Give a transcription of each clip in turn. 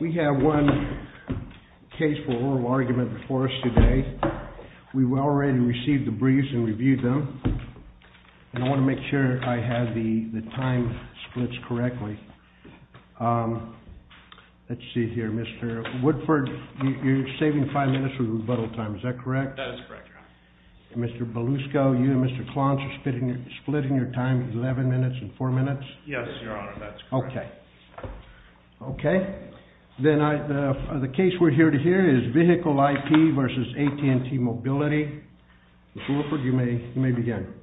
We have one case for oral argument before us today. We've already received the briefs and reviewed them. And I want to make sure I have the time splits correctly. Let's see here, Mr. Woodford, you're saving five minutes for rebuttal time, is that correct? That is correct, Your Honor. Mr. Belusco, you and Mr. Klontz are splitting your time 11 minutes and 4 minutes? Yes, Your Honor, that's correct. Okay. Then the case we're here to hear is Vehicle IP v. AT&T Mobility. Mr. Woodford, you may begin.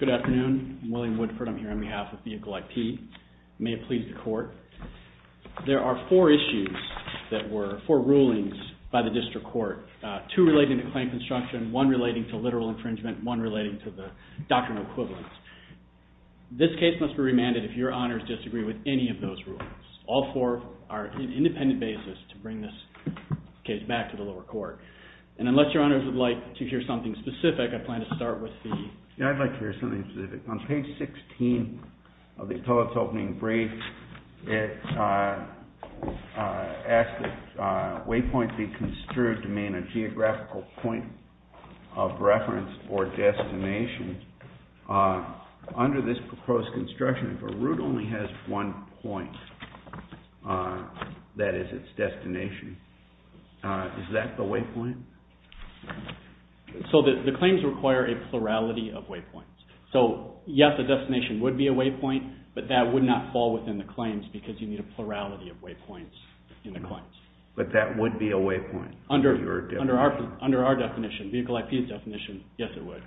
Good afternoon. I'm William Woodford. I'm here on behalf of Vehicle IP. May it please the Court. There are four issues that were, four rulings by the District Court, two relating to claim construction, one relating to literal infringement, one relating to the doctrinal equivalence. This case must be remanded if Your Honors disagree with any of those rulings. All four are an independent basis to bring this case back to the lower court. And unless Your Honors would like to hear something specific, I plan to start with the… Yeah, I'd like to hear something specific. On page 16 of the appellate's opening brief, it asks that waypoint be construed to mean a geographical point of reference or destination. Under this proposed construction, if a route only has one point, that is its destination, is that the waypoint? So the claims require a plurality of waypoints. So yes, the destination would be a waypoint, but that would not fall within the claims because you need a plurality of waypoints in the claims. But that would be a waypoint? Under our definition, vehicle IP's definition, yes it would.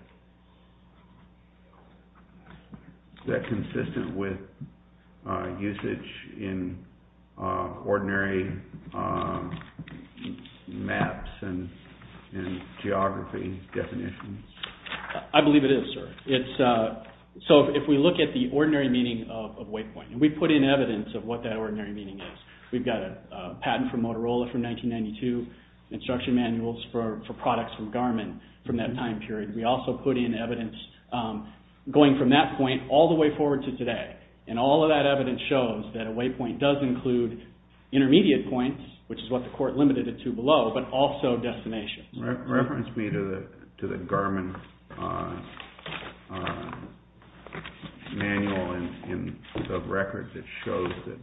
Is that consistent with usage in ordinary maps and geography definitions? I believe it is, sir. So if we look at the ordinary meaning of waypoint, and we put in evidence of what that ordinary meaning is. We've got a patent from Motorola from 1992, instruction manuals for products from Garmin from that time period. We also put in evidence going from that point all the way forward to today. And all of that evidence shows that a waypoint does include intermediate points, which is what the court limited it to below, but also destinations. Reference me to the Garmin manual of records that shows that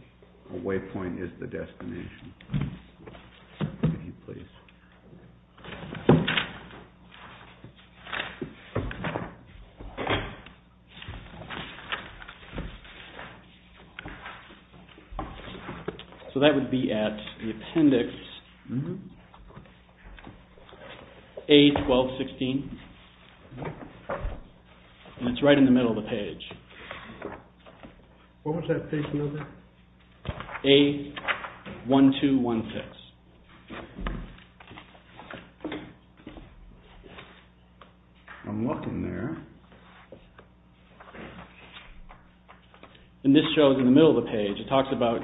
a waypoint is the destination. Thank you, please. So that would be at the appendix A1216, and it's right in the middle of the page. What was that page number? A1216. I'm looking there. And this shows in the middle of the page, it talks about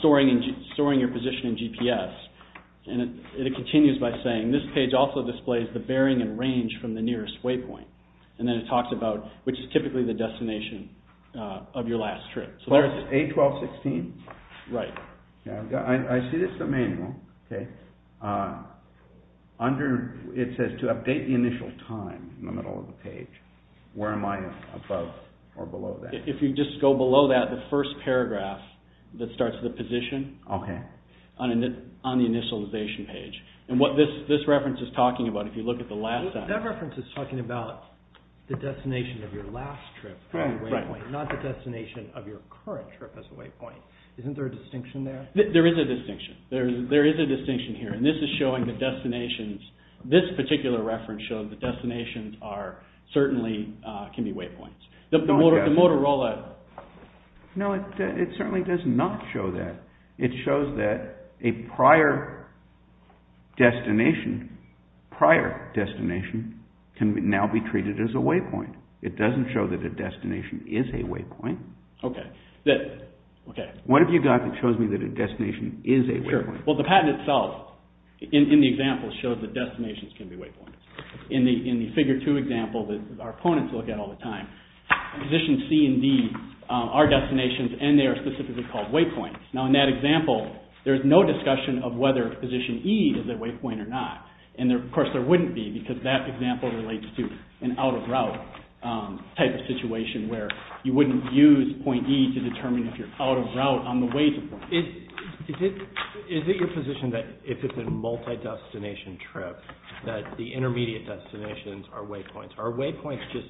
storing your position in GPS, and it continues by saying this page also displays the bearing and range from the nearest waypoint. And then it talks about, which is typically the destination of your last trip. So there's A1216? Right. I see this in the manual. It says to update the initial time in the middle of the page. Where am I above or below that? If you just go below that, the first paragraph that starts the position on the initialization page. And what this reference is talking about, if you look at the last sentence. That reference is talking about the destination of your last trip as a waypoint, not the destination of your current trip as a waypoint. Isn't there a distinction there? There is a distinction. There is a distinction here. And this is showing the destinations. This particular reference shows the destinations certainly can be waypoints. No, it certainly does not show that. It shows that a prior destination can now be treated as a waypoint. It doesn't show that a destination is a waypoint. What have you got that shows me that a destination is a waypoint? Well, the patent itself in the example shows that destinations can be waypoints. In the figure two example that our opponents look at all the time, positions C and D are destinations and they are specifically called waypoints. Now, in that example, there is no discussion of whether position E is a waypoint or not. And, of course, there wouldn't be because that example relates to an out-of-route type of situation where you wouldn't use point E to determine if you're out-of-route on the way to the point. Is it your position that if it's a multi-destination trip that the intermediate destinations are waypoints? Are waypoints just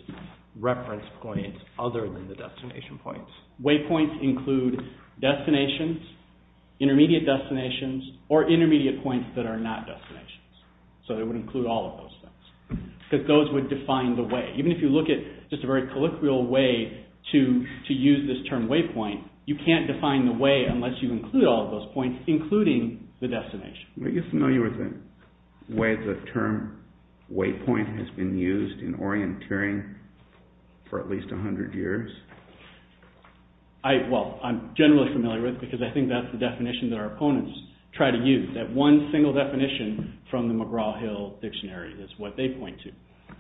reference points other than the destination points? Waypoints include destinations, intermediate destinations, or intermediate points that are not destinations. So, they would include all of those things because those would define the way. Even if you look at just a very colloquial way to use this term waypoint, you can't define the way unless you include all of those points including the destination. Are you familiar with the way the term waypoint has been used in orienteering for at least 100 years? Well, I'm generally familiar with it because I think that's the definition that our opponents try to use. That one single definition from the McGraw-Hill Dictionary is what they point to.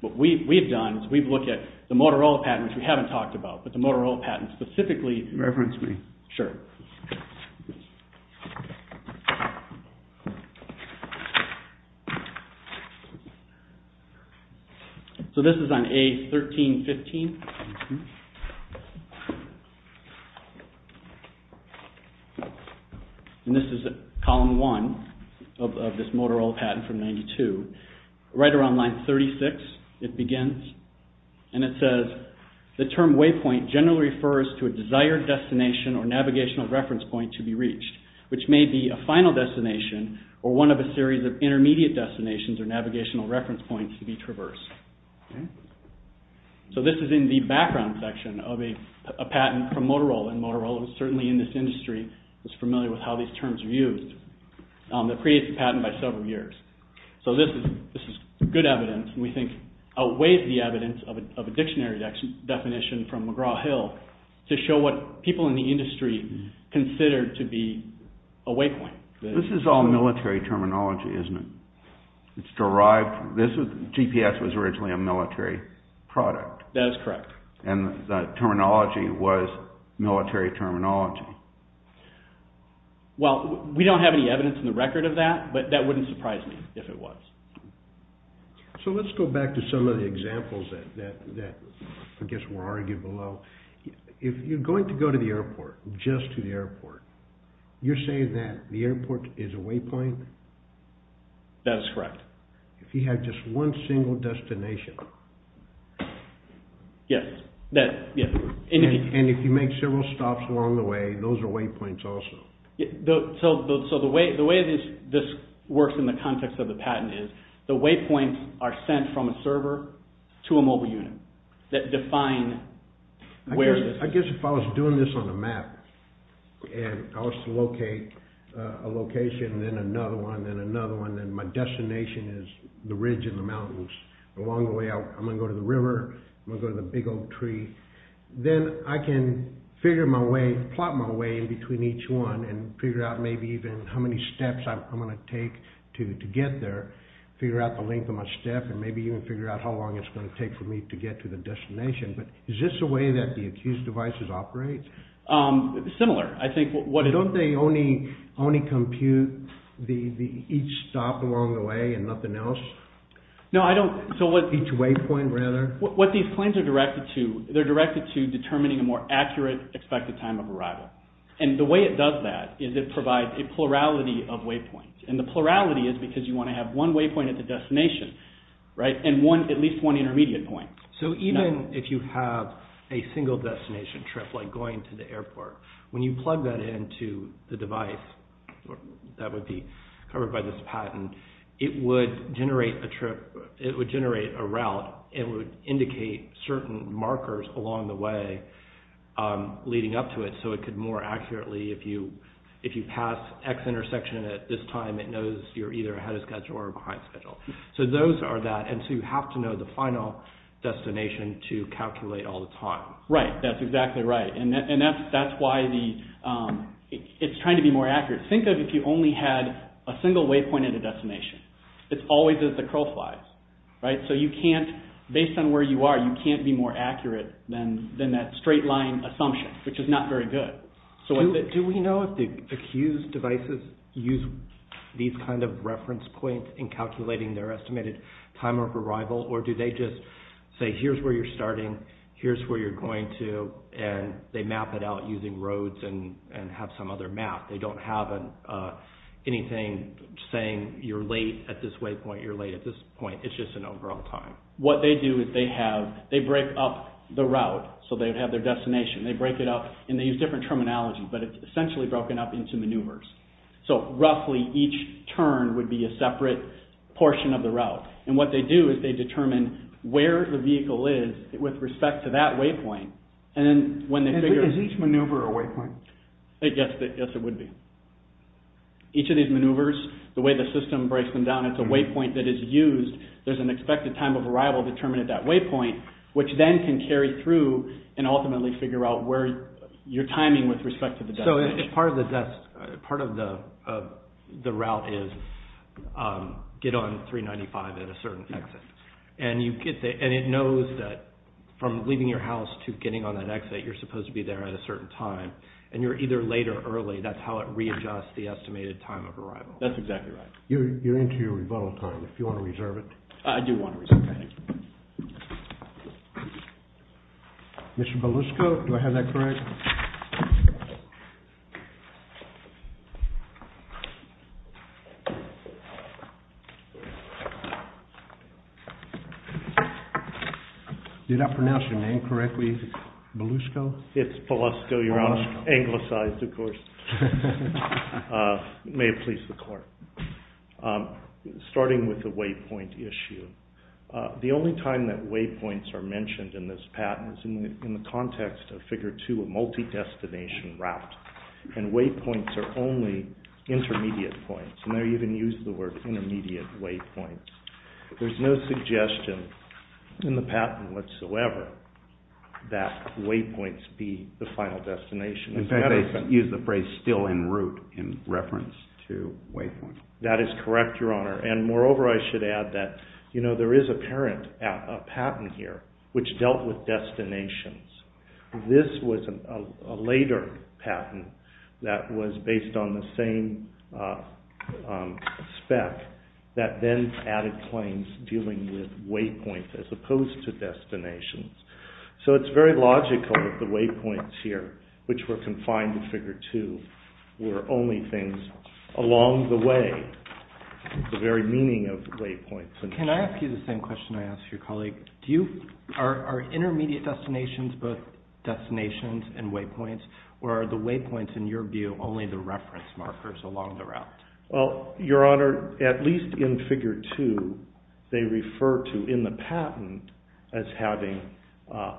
What we've done is we've looked at the Motorola patent, which we haven't talked about, but the Motorola patent specifically... Reference me. Sure. So, this is on A1315. And this is column one of this Motorola patent from 92. Right around line 36 it begins and it says, the term waypoint generally refers to a desired destination or navigational reference point to be reached, which may be a final destination or one of a series of intermediate destinations or navigational reference points to be traversed. So, this is in the background section of a patent from Motorola. And Motorola was certainly in this industry, was familiar with how these terms are used. It creates a patent by several years. So, this is good evidence and we think outweighs the evidence of a dictionary definition from McGraw-Hill to show what people in the industry consider to be a waypoint. This is all military terminology, isn't it? GPS was originally a military product. That is correct. And the terminology was military terminology. Well, we don't have any evidence in the record of that, but that wouldn't surprise me if it was. So, let's go back to some of the examples that I guess were argued below. If you're going to go to the airport, just to the airport, you're saying that the airport is a waypoint? That's correct. If you have just one single destination. Yes. And if you make several stops along the way, those are waypoints also. So, the way this works in the context of the patent is the waypoints are sent from a server to a mobile unit that define where... I guess if I was doing this on a map and I was to locate a location, then another one, then another one, then my destination is the ridge in the mountains. Along the way, I'm going to go to the river, I'm going to go to the big old tree. Then I can figure my way, plot my way in between each one and figure out maybe even how many steps I'm going to take to get there. Figure out the length of my step and maybe even figure out how long it's going to take for me to get to the destination. But is this the way that the accused devices operate? Similar. I think what... Don't they only compute each stop along the way and nothing else? No, I don't... Each waypoint, rather? What these planes are directed to, they're directed to determining a more accurate expected time of arrival. The way it does that is it provides a plurality of waypoints. The plurality is because you want to have one waypoint at the destination and at least one intermediate point. So, even if you have a single destination trip like going to the airport, when you plug that into the device that would be covered by this patent, it would generate a route and would indicate certain markers along the way leading up to it. So, it could more accurately... If you pass X intersection at this time, it knows you're either ahead of schedule or behind schedule. So, those are that. And so, you have to know the final destination to calculate all the time. Right. That's exactly right. And that's why it's trying to be more accurate. Think of if you only had a single waypoint at a destination. It's always at the crow flies. Right? So, you can't... Based on where you are, you can't be more accurate than that straight line assumption, which is not very good. Do we know if the accused devices use these kind of reference points in calculating their estimated time of arrival? Or do they just say, here's where you're starting, here's where you're going to, and they map it out using roads and have some other map? They don't have anything saying you're late at this waypoint, you're late at this point. It's just an overall time. What they do is they have... They break up the route so they would have their destination. They break it up and they use different terminology, but it's essentially broken up into maneuvers. So, roughly, each turn would be a separate portion of the route. And what they do is they determine where the vehicle is with respect to that waypoint. And then when they figure... Is each maneuver a waypoint? Yes, it would be. Each of these maneuvers, the way the system breaks them down, it's a waypoint that is used. There's an expected time of arrival determined at that waypoint, which then can carry through and ultimately figure out where your timing with respect to the destination is. So, part of the route is get on 395 at a certain exit. And it knows that from leaving your house to getting on that exit, you're supposed to be there at a certain time. And you're either late or early. That's how it readjusts the estimated time of arrival. That's exactly right. You're into your rebuttal time, if you want to reserve it. I do want to reserve it. Mr. Belusco, do I have that correct? Did I pronounce your name correctly? Belusco? It's Belusco. You're anglicized, of course. It may have pleased the court. Starting with the waypoint issue. The only time that waypoints are mentioned in this patent is in the context of Figure 2, a multi-destination route. And waypoints are only intermediate points. And they even use the word intermediate waypoints. There's no suggestion in the patent whatsoever that waypoints be the final destination. In fact, they use the phrase still en route in reference to waypoints. That is correct, Your Honor. And moreover, I should add that there is a parent patent here which dealt with destinations. This was a later patent that was based on the same spec that then added claims dealing with waypoints as opposed to destinations. So it's very logical that the waypoints here, which were confined to Figure 2, were only things along the way, the very meaning of waypoints. Can I ask you the same question I asked your colleague? Are intermediate destinations both destinations and waypoints? Or are the waypoints, in your view, only the reference markers along the route? Well, Your Honor, at least in Figure 2, they refer to, in the patent, as having a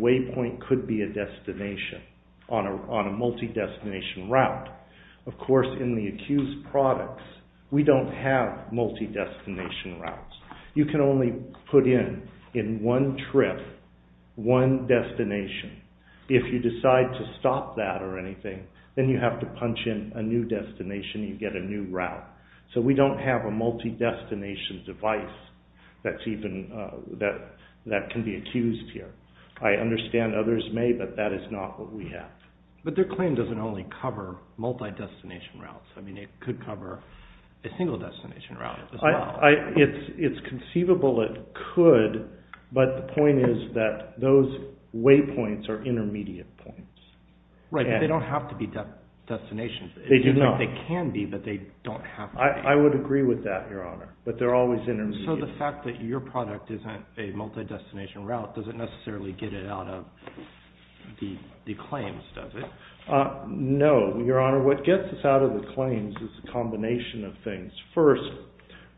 waypoint could be a destination on a multi-destination route. Of course, in the accused products, we don't have multi-destination routes. You can only put in, in one trip, one destination. If you decide to stop that or anything, then you have to punch in a new destination and you get a new route. So we don't have a multi-destination device that can be accused here. I understand others may, but that is not what we have. But their claim doesn't only cover multi-destination routes. I mean, it could cover a single destination route as well. It's conceivable it could, but the point is that those waypoints are intermediate points. Right, but they don't have to be destinations. They do not. They can be, but they don't have to be. I would agree with that, Your Honor, but they're always intermediate. So the fact that your product isn't a multi-destination route doesn't necessarily get it out of the claims, does it? No, Your Honor. What gets us out of the claims is a combination of things. First,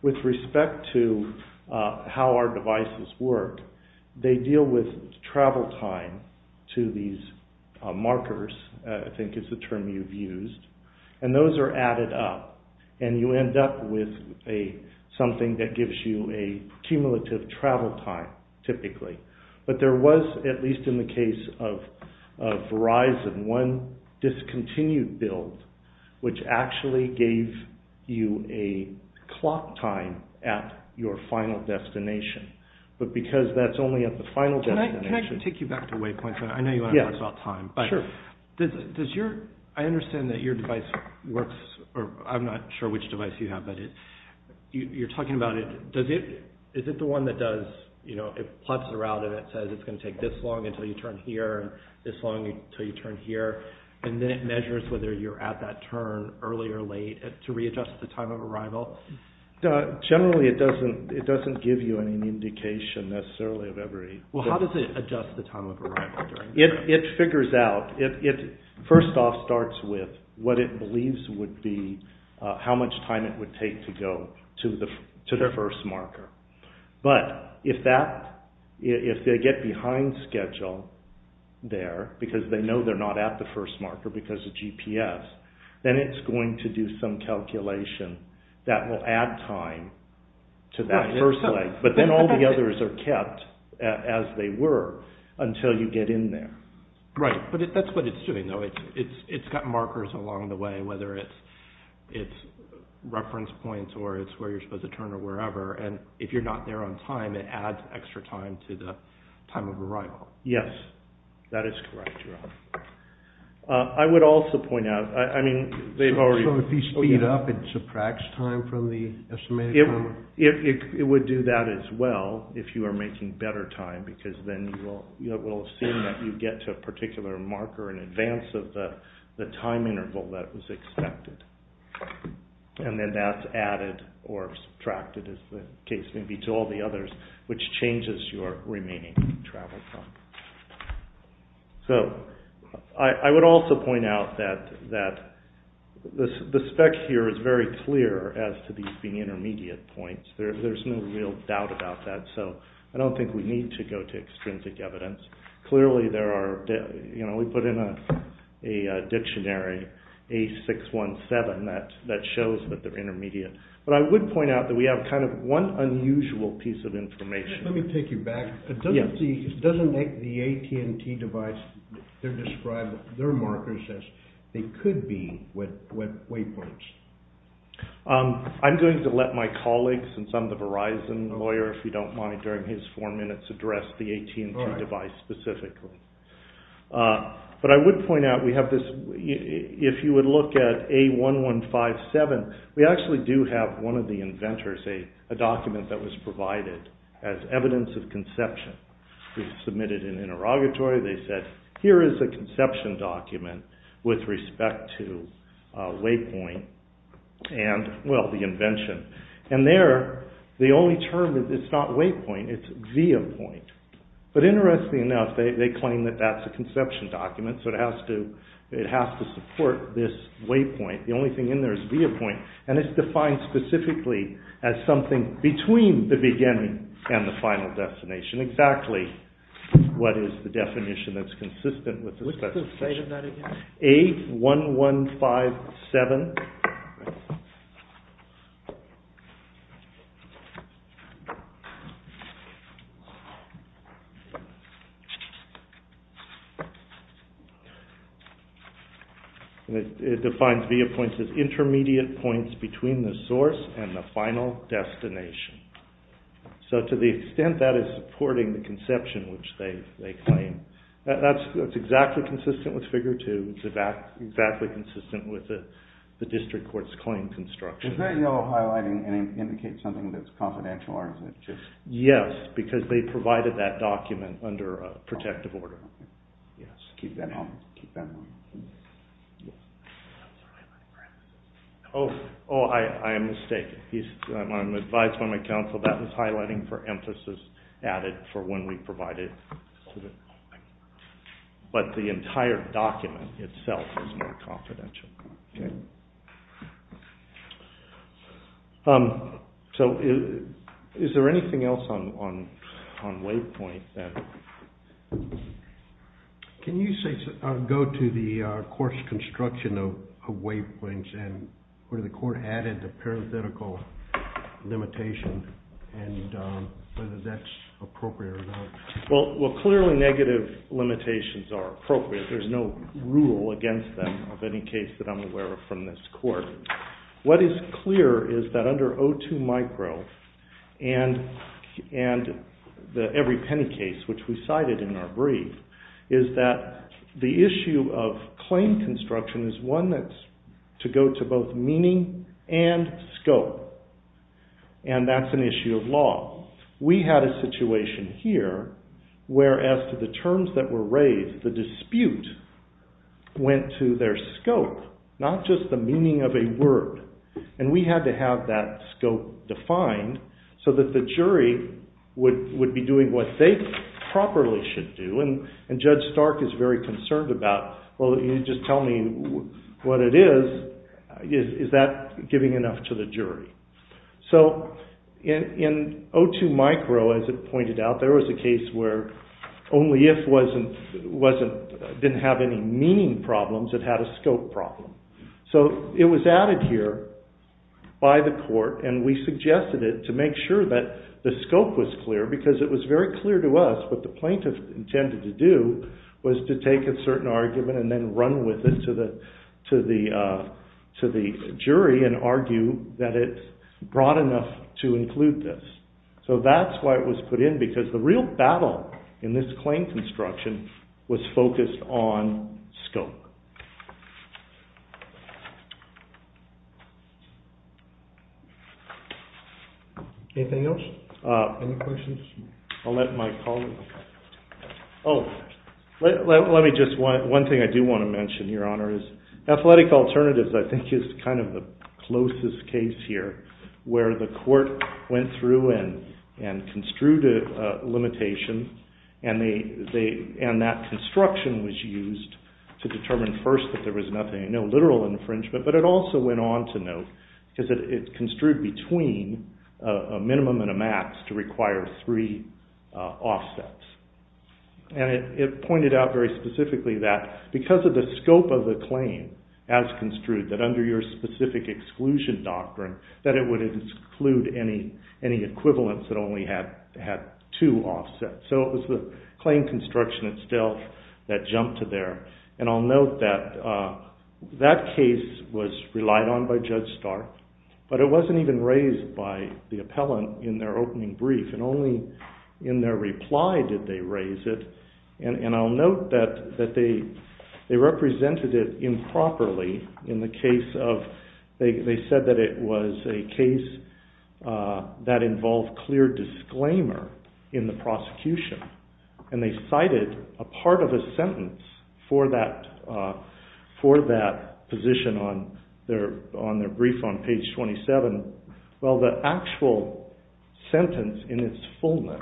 with respect to how our devices work, they deal with travel time to these markers, I think is the term you've used. And those are added up, and you end up with something that gives you a cumulative travel time, typically. But there was, at least in the case of Verizon, one discontinued build, which actually gave you a clock time at your final destination. But because that's only at the final destination. Can I take you back to waypoints? I know you want to talk about time. Sure. I understand that your device works, or I'm not sure which device you have, but you're talking about it. Is it the one that does, you know, it plots the route and it says it's going to take this long until you turn here, and this long until you turn here, and then it measures whether you're at that turn early or late to readjust the time of arrival? Generally, it doesn't give you any indication, necessarily, of every... Well, how does it adjust the time of arrival? It figures out, it first off starts with what it believes would be how much time it would take to go to the first marker. But if they get behind schedule there, because they know they're not at the first marker because of GPS, then it's going to do some calculation that will add time to that first leg. But then all the others are kept as they were until you get in there. Right, but that's what it's doing, though. It's got markers along the way, whether it's reference points or it's where you're supposed to turn or wherever, and if you're not there on time, it adds extra time to the time of arrival. Yes, that is correct. I would also point out, I mean, they've already... So if you speed up, it subtracts time from the estimated time? It would do that as well if you were making better time, because then it will assume that you get to a particular marker in advance of the time interval that was expected. And then that's added or subtracted, as the case may be, to all the others, which changes your remaining travel time. So I would also point out that the spec here is very clear as to these being intermediate points. There's no real doubt about that, so I don't think we need to go to extrinsic evidence. Clearly, we put in a dictionary, A617, that shows that they're intermediate. But I would point out that we have kind of one unusual piece of information. Let me take you back. Doesn't the AT&T device describe their markers as they could be with waypoints? I'm going to let my colleague, since I'm the Verizon lawyer, if you don't mind, during his four minutes address the AT&T device specifically. But I would point out we have this... If you would look at A1157, we actually do have one of the inventors, a document that was provided as evidence of conception. We submitted an interrogatory, they said, here is a conception document with respect to waypoint and, well, the invention. And there, the only term, it's not waypoint, it's via point. But interestingly enough, they claim that that's a conception document, so it has to support this waypoint. The only thing in there is via point. And it's defined specifically as something between the beginning and the final destination, exactly what is the definition that's consistent with the specification. What's the state of that again? A1157. All right. It defines via points as intermediate points between the source and the final destination. So to the extent that is supporting the conception, which they claim, that's exactly consistent with Figure 2. It's exactly consistent with the district court's claim construction. The very yellow highlighting indicates something that's confidential, or is it just... Yes, because they provided that document under a protective order. Yes. Keep that in mind. Oh, I am mistaken. I'm advised by my counsel that was highlighting for emphasis added for when we provided... But the entire document itself is more confidential. Okay. So is there anything else on waypoint that... Can you go to the court's construction of waypoints and where the court added the parenthetical limitation and whether that's appropriate or not? Well, clearly negative limitations are appropriate. There's no rule against them of any case that I'm aware of from this court. What is clear is that under O2 micro and every penny case, which we cited in our brief, is that the issue of claim construction is one that's to go to both meaning and scope, and that's an issue of law. We had a situation here where, as to the terms that were raised, the dispute went to their scope, not just the meaning of a word. And we had to have that scope defined so that the jury would be doing what they properly should do. And Judge Stark is very concerned about, well, you just tell me what it is. Is that giving enough to the jury? So in O2 micro, as it pointed out, there was a case where only if didn't have any meaning problems, it had a scope problem. So it was added here by the court, and we suggested it to make sure that the scope was clear because it was very clear to us what the plaintiff intended to do was to take a certain argument and then run with it to the jury and argue that it's broad enough to include this. So that's why it was put in, because the real battle in this claim construction was focused on scope. Anything else? Any questions? I'll let my colleague... Oh, let me just, one thing I do want to mention, Your Honor, is athletic alternatives I think is kind of the closest case here where the court went through and construed a limitation, and that construction was used to determine first that there was no literal infringement, but it also went on to note that it's construed between a minimum and a max to require three offsets. And it pointed out very specifically that because of the scope of the claim as construed, that under your specific exclusion doctrine, that it would include any equivalents that only had two offsets. So it was the claim construction itself that jumped to there. And I'll note that that case was relied on by Judge Stark, but it wasn't even raised by the appellant in their opening brief, and only in their reply did they raise it. And I'll note that they represented it improperly in the case of, they said that it was a case that involved clear disclaimer in the prosecution. And they cited a part of a sentence for that position on their brief on page 27. Well, the actual sentence in its fullness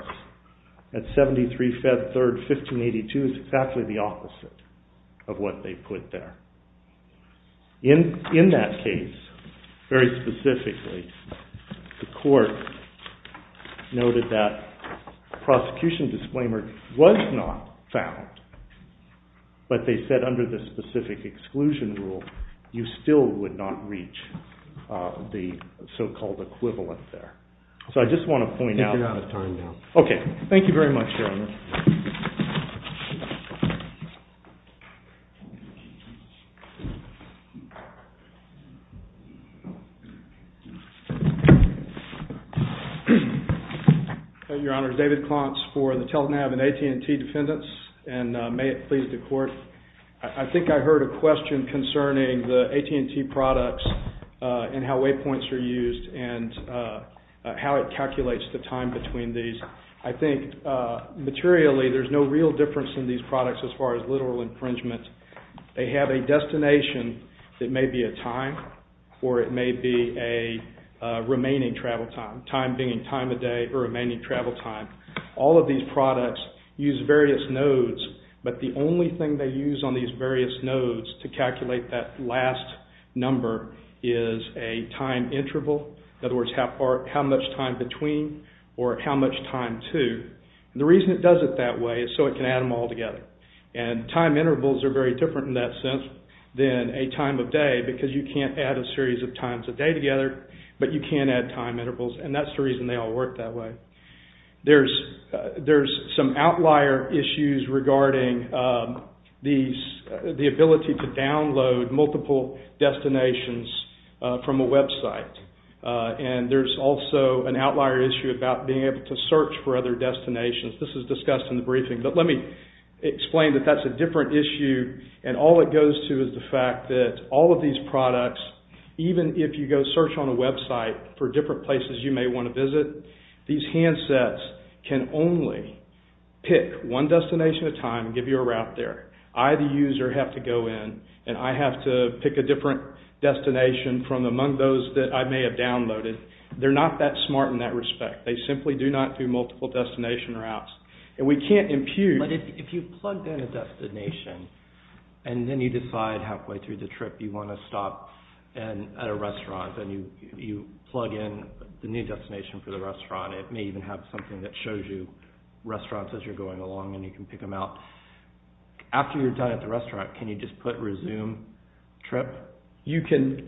at 73 Feb 3rd, 1582, is exactly the opposite of what they put there. In that case, very specifically, the court noted that prosecution disclaimer was not found, but they said under the specific exclusion rule, you still would not reach the so-called equivalent there. So I just want to point out... We're out of time now. Okay. Thank you very much, gentlemen. Your Honor, David Klontz for the TELTNAV and AT&T defendants, and may it please the court, I think I heard a question concerning the AT&T products and how waypoints are used and how it calculates the time between these. I think materially there's no real difference in these products as far as literal infringement. They have a destination that may be a time or it may be a remaining travel time, time being time of day or remaining travel time. All of these products use various nodes, but the only thing they use on these various nodes to calculate that last number is a time interval. In other words, how much time between or how much time to. The reason it does it that way is so it can add them all together. And time intervals are very different in that sense than a time of day because you can't add a series of times a day together, but you can add time intervals, and that's the reason they all work that way. There's some outlier issues regarding the ability to download multiple destinations from a website. And there's also an outlier issue about being able to search for other destinations. This is discussed in the briefing, but let me explain that that's a different issue and all it goes to is the fact that all of these products, even if you go search on a website for different places you may want to visit, these handsets can only pick one destination at a time and give you a route there. I, the user, have to go in and I have to pick a different destination from among those that I may have downloaded. They're not that smart in that respect. They simply do not do multiple destination routes. And we can't impugn... But if you plugged in a destination and then you decide halfway through the trip you want to stop at a restaurant, then you plug in the new destination for the restaurant. It may even have something that shows you restaurants as you're going along and you can pick them out. After you're done at the restaurant can you just put resume trip? You can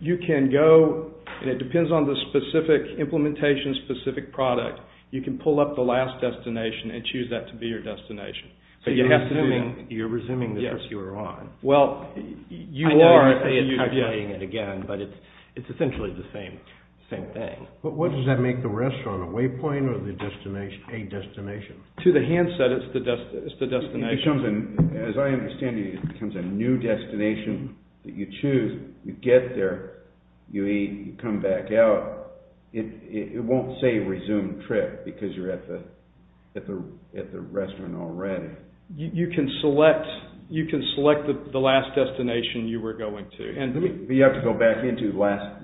go, and it depends on the specific implementation, specific product, you can pull up the last destination and choose that to be your destination. So you're resuming the trip you were on. I know you're saying it again, but it's essentially the same thing. But what does that make the restaurant? A waypoint or a destination? To the handset it's the destination. As I understand it, it becomes a new destination that you choose. You get there, you eat, you come back out. It won't say resume trip because you're at the restaurant already. You can select the last destination you were going to. You have to go back into the last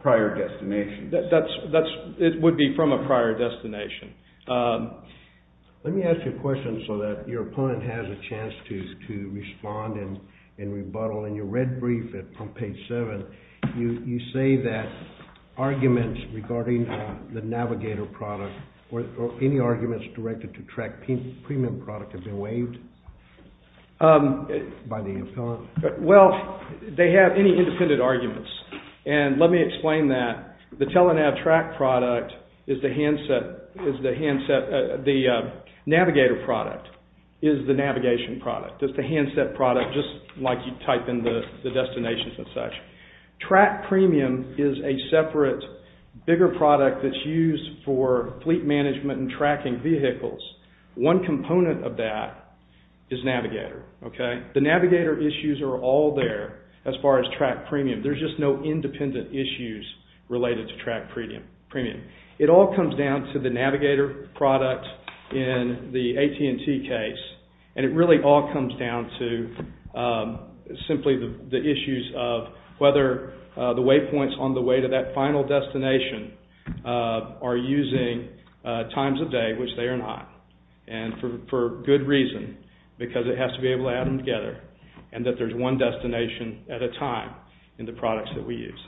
prior destination. It would be from a prior destination. Let me ask you a question so that your opponent has a chance to respond and rebuttal in your red brief on page 7. You say that arguments regarding the navigator product or any arguments directed to TRAC premium product have been waived by the impellant? Well, they have any independent arguments. Let me explain that. The navigator product is the navigation product. It's the handset product just like you type in the destinations and such. TRAC premium is a separate bigger product that's used for fleet management and tracking vehicles. One component of that is navigator. The navigator issues are all there as far as TRAC premium. There's just no independent issues related to TRAC premium. It all comes down to the navigator product in the AT&T case and it really all comes down to simply the issues of whether the waypoints on the way to that final destination are using times of day, which they are not, and for good reason because it has to be able to add them together and that there's one destination at a time in the products that we use.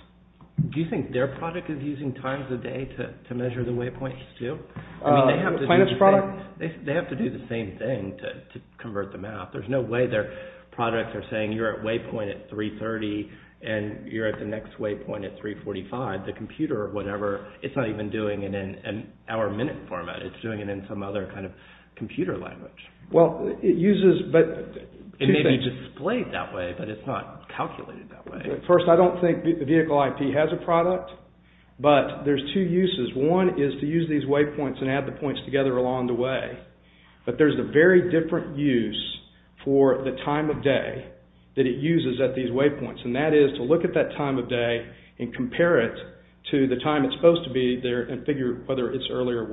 Do you think their product is using times of day to measure the waypoints too? The plaintiff's product? They have to do the same thing to convert the math. There's no way their products are saying you're at waypoint at 3.30 and you're at the next waypoint at 3.45. The computer or whatever, it's not even doing it in an hour-minute format. It's doing it in some other kind of computer language. It may be displayed that way, but it's not calculated that way. First, I don't think vehicle IP has a product, but there's two uses. One is to use these waypoints and add the points together along the way, but there's a very different use for the time of day that it uses at these waypoints, and that is to look at that time of day and compare it to the time it's supposed to be there and figure whether it's early or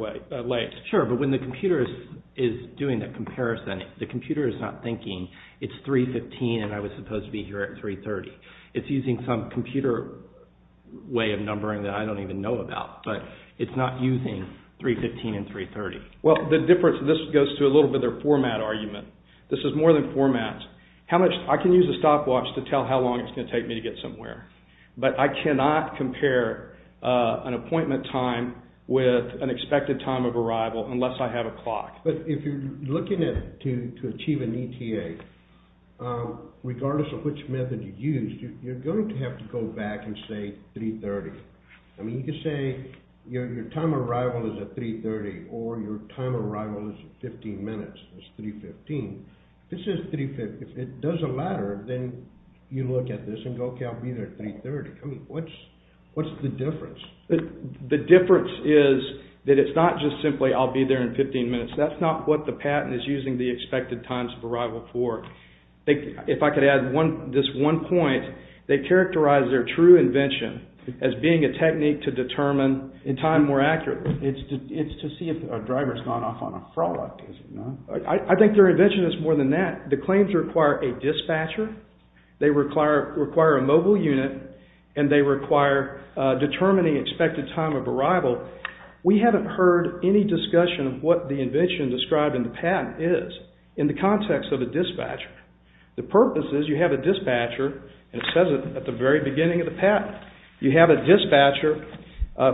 late. Sure, but when the computer is doing that comparison, the computer is not thinking it's 3.15 and I was supposed to be here at 3.30. It's using some computer way of numbering that I don't even know about, but it's not using 3.15 and 3.30. Well, the difference, this goes to a little bit of their format argument. This is more than format. I can use a stopwatch to tell how long it's going to take me to get somewhere, but I cannot compare an appointment time with an expected time of arrival unless I have a clock. But if you're looking to achieve an ETA, regardless of which method you use, you're going to have to go back and say 3.30. I mean, you could say your time of arrival is at 3.30 or your time of arrival is at 15 minutes, that's 3.15. This is 3.15. If it doesn't matter, then you look at this and go, okay, I'll be there at 3.30. What's the difference? The difference is that it's not just simply I'll be there in 15 minutes. That's not what the patent is using the expected times of arrival for. If I could add this one point, they characterize their true invention as being a technique to determine in time more accurately. It's to see if a driver's gone off on a fraud. I think their invention is more than that. The claims require a dispatcher. They require a mobile unit, and they require determining expected time of arrival. We haven't heard any discussion of what the invention described in the patent is in the context of a dispatcher. The purpose is you have a dispatcher, and it says it at the very beginning of the patent. You have a dispatcher.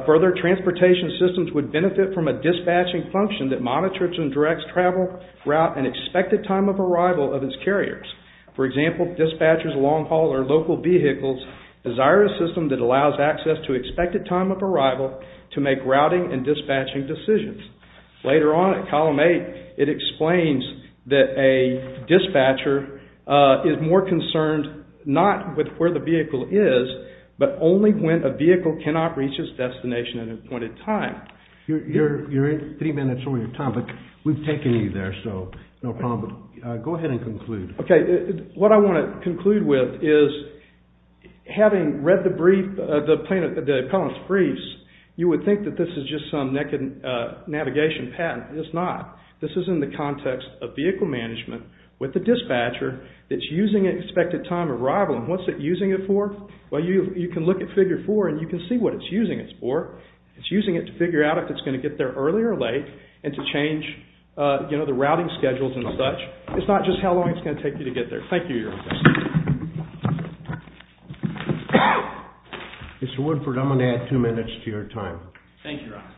Further, transportation systems would benefit from a dispatching function that monitors and directs travel, route, and expected time of arrival of its carriers. For example, dispatchers, long haul, or local vehicles desire a system that allows access to expected time of arrival to make routing and dispatching decisions. Later on at column 8, it explains that a dispatcher is more concerned not with where the vehicle is, but only when a vehicle cannot reach its destination at a point in time. You're in three minutes over your time, but we've taken you there, so no problem. Go ahead and conclude. Okay. What I want to conclude with is having read the brief, the appellant's briefs, you would think that this is just some navigation patent. It's not. This is in the context of vehicle management with the dispatcher that's using expected time of arrival. And what's it using it for? Well, you can look at Figure 4, and you can see what it's using it for. It's using it to figure out if it's going to get there early or late and to change the routing schedules and such. It's not just how long it's going to take you to get there. Thank you, Your Honor. Mr. Woodford, I'm going to add two minutes to your time. Thank you, Your Honor.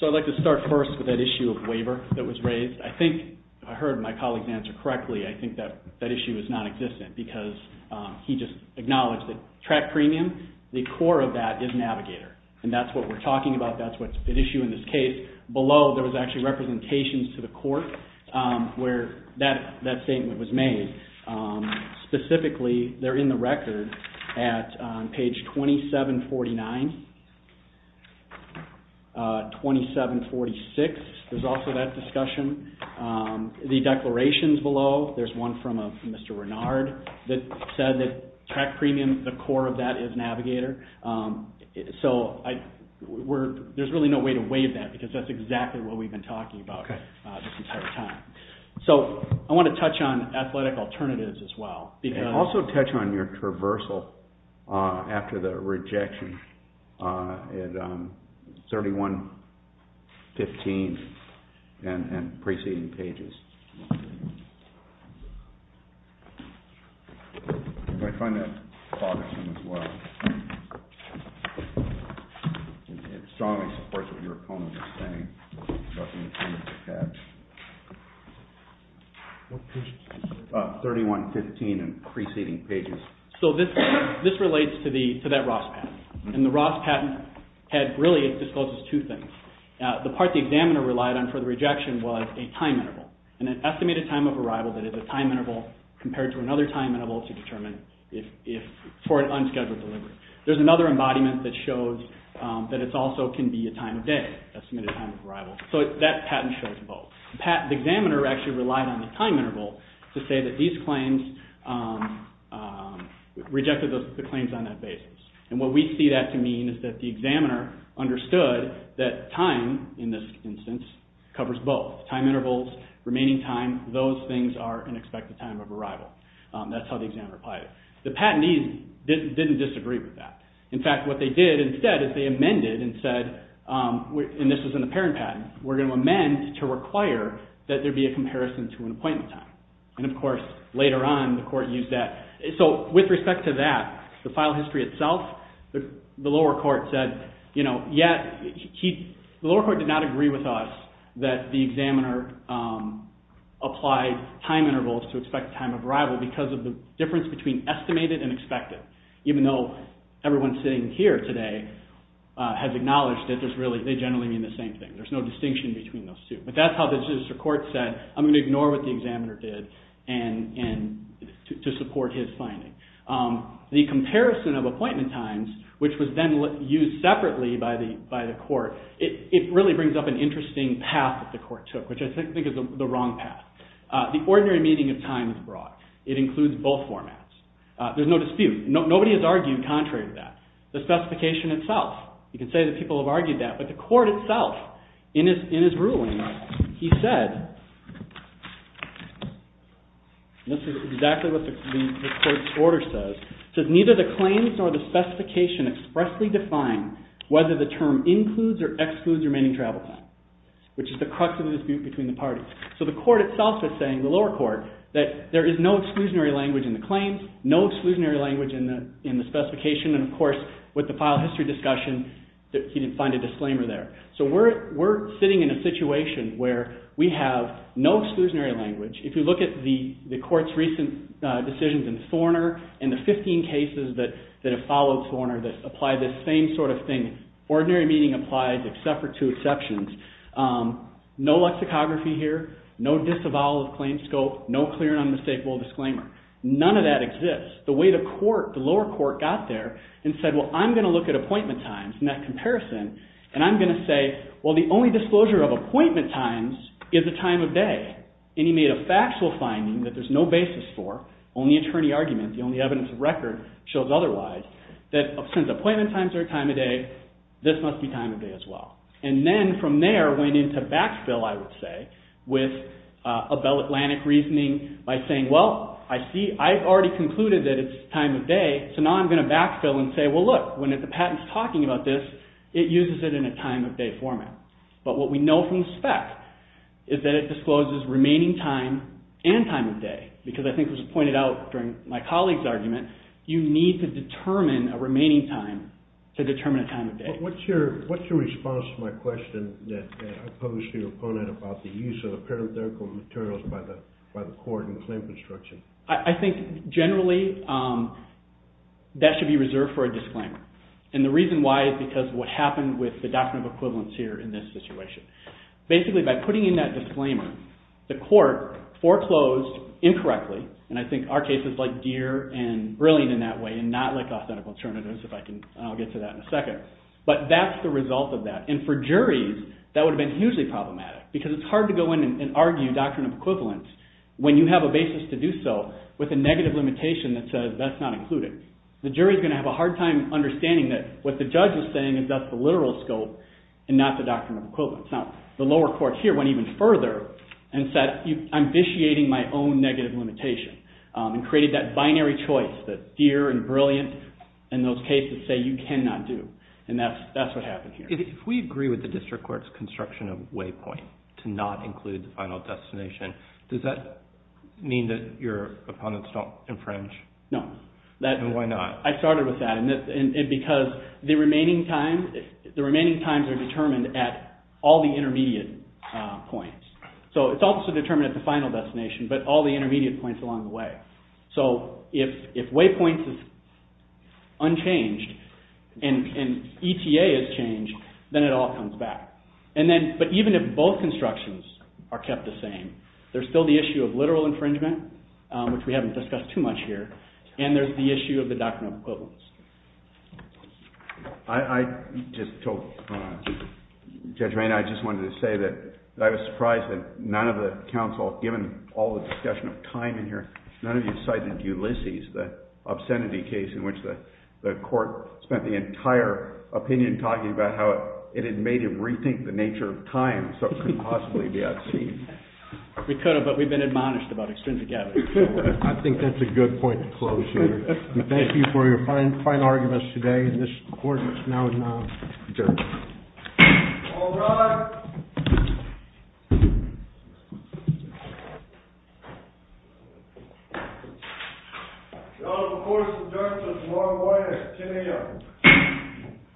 So I'd like to start first with that issue of waiver that was raised. I think I heard my colleague's answer correctly. I think that issue is non-existent because he just acknowledged that track premium, the core of that is Navigator. And that's what we're talking about. That's what's at issue in this case. Below, there was actually representations to the court where that statement was made. Specifically, they're in the record at page 2749. 2746, there's also that discussion. The declarations below, there's one from Mr. Renard that said that track premium, the core of that is Navigator. So there's really no way to waive that because that's exactly what we've been talking about this entire time. So I want to touch on athletic alternatives as well. Also touch on your traversal after the rejection at 3115 and preceding pages. I find that bothersome as well. It strongly supports what your opponent is saying. 3115 and preceding pages. So this relates to that Ross patent. And the Ross patent had really disclosed two things. The part the examiner relied on for the rejection was a time interval. An estimated time of arrival that is a time interval compared to another time interval to determine for an unscheduled delivery. There's another embodiment that shows that it also can be a time of day, estimated time of arrival. So that patent shows both. The examiner actually relied on the time interval to say that these claims rejected the claims on that basis. And what we see that to mean is that the examiner understood that time, in this instance, covers both. Time intervals, remaining time, those things are an expected time of arrival. That's how the examiner applied it. The patentees didn't disagree with that. In fact, what they did instead is they amended and said, and this is an apparent patent, we're going to amend to require that there be a comparison to an appointment time. And, of course, later on the court used that. So with respect to that, the file history itself, the lower court did not agree with us that the examiner applied time intervals to expect time of arrival because of the difference between estimated and expected, even though everyone sitting here today has acknowledged that they generally mean the same thing. There's no distinction between those two. But that's how the judicial court said, I'm going to ignore what the examiner did to support his finding. The comparison of appointment times, which was then used separately by the court, it really brings up an interesting path that the court took, which I think is the wrong path. The ordinary meaning of time is broad. It includes both formats. There's no dispute. Nobody has argued contrary to that. The specification itself, you can say that people have argued that, but the court itself, in his ruling, he said, and this is exactly what the court's order says, neither the claims nor the specification expressly define whether the term includes or excludes remaining travel time, which is the crux of the dispute between the parties. So the court itself is saying, the lower court, that there is no exclusionary language in the claims, no exclusionary language in the specification, and, of course, with the file history discussion, he didn't find a disclaimer there. So we're sitting in a situation where we have no exclusionary language. If you look at the court's recent decisions in Thorner and the 15 cases that have followed Thorner that apply this same sort of thing, ordinary meaning applies except for two exceptions, no lexicography here, no disavowal of claims scope, no clear and unmistakable disclaimer. None of that exists. The way the lower court got there and said, well, I'm going to look at appointment times and that comparison, and I'm going to say, well, the only disclosure of appointment times is the time of day, and he made a factual finding that there's no basis for, only attorney argument, the only evidence of record shows otherwise, that since appointment times are a time of day, this must be time of day as well. And then from there went into backfill, I would say, with Atlantic reasoning by saying, well, I see, I've already concluded that it's time of day, so now I'm going to backfill and say, well, look, when the patent's talking about this, it uses it in a time of day format. But what we know from the spec is that it discloses remaining time and time of day, because I think it was pointed out during my colleague's argument, that you need to determine a remaining time to determine a time of day. What's your response to my question that I posed to your opponent about the use of the parenthetical materials by the court in claim construction? I think generally that should be reserved for a disclaimer, and the reason why is because of what happened with the doctrine of equivalence here in this situation. Basically, by putting in that disclaimer, the court foreclosed incorrectly, and I think our case is like Deere and Brilliant in that way and not like Authentic Alternatives, and I'll get to that in a second. But that's the result of that. And for juries, that would have been hugely problematic, because it's hard to go in and argue doctrine of equivalence when you have a basis to do so with a negative limitation that says that's not included. The jury's going to have a hard time understanding that what the judge is saying is that's the literal scope and not the doctrine of equivalence. Now, the lower court here went even further and said I'm vitiating my own negative limitation and created that binary choice that Deere and Brilliant and those cases say you cannot do, and that's what happened here. If we agree with the district court's construction of waypoint to not include the final destination, does that mean that your opponents don't infringe? No. And why not? I started with that, because the remaining times are determined at all the intermediate points. So it's also determined at the final destination, but all the intermediate points along the way. So if waypoint is unchanged and ETA is changed, then it all comes back. But even if both constructions are kept the same, there's still the issue of literal infringement, which we haven't discussed too much here, and there's the issue of the doctrine of equivalence. I just told Judge Rainer, I just wanted to say that I was surprised that none of the counsel, given all the discussion of time in here, none of you cited Ulysses, the obscenity case in which the court spent the entire opinion talking about how it had made him rethink the nature of time so it couldn't possibly be obscene. We could have, but we've been admonished about extrinsic evidence. I think that's a good point to close here. Thank you for your fine arguments today. This court is now adjourned. All rise. The court is adjourned. There's one witness. Ten a.m.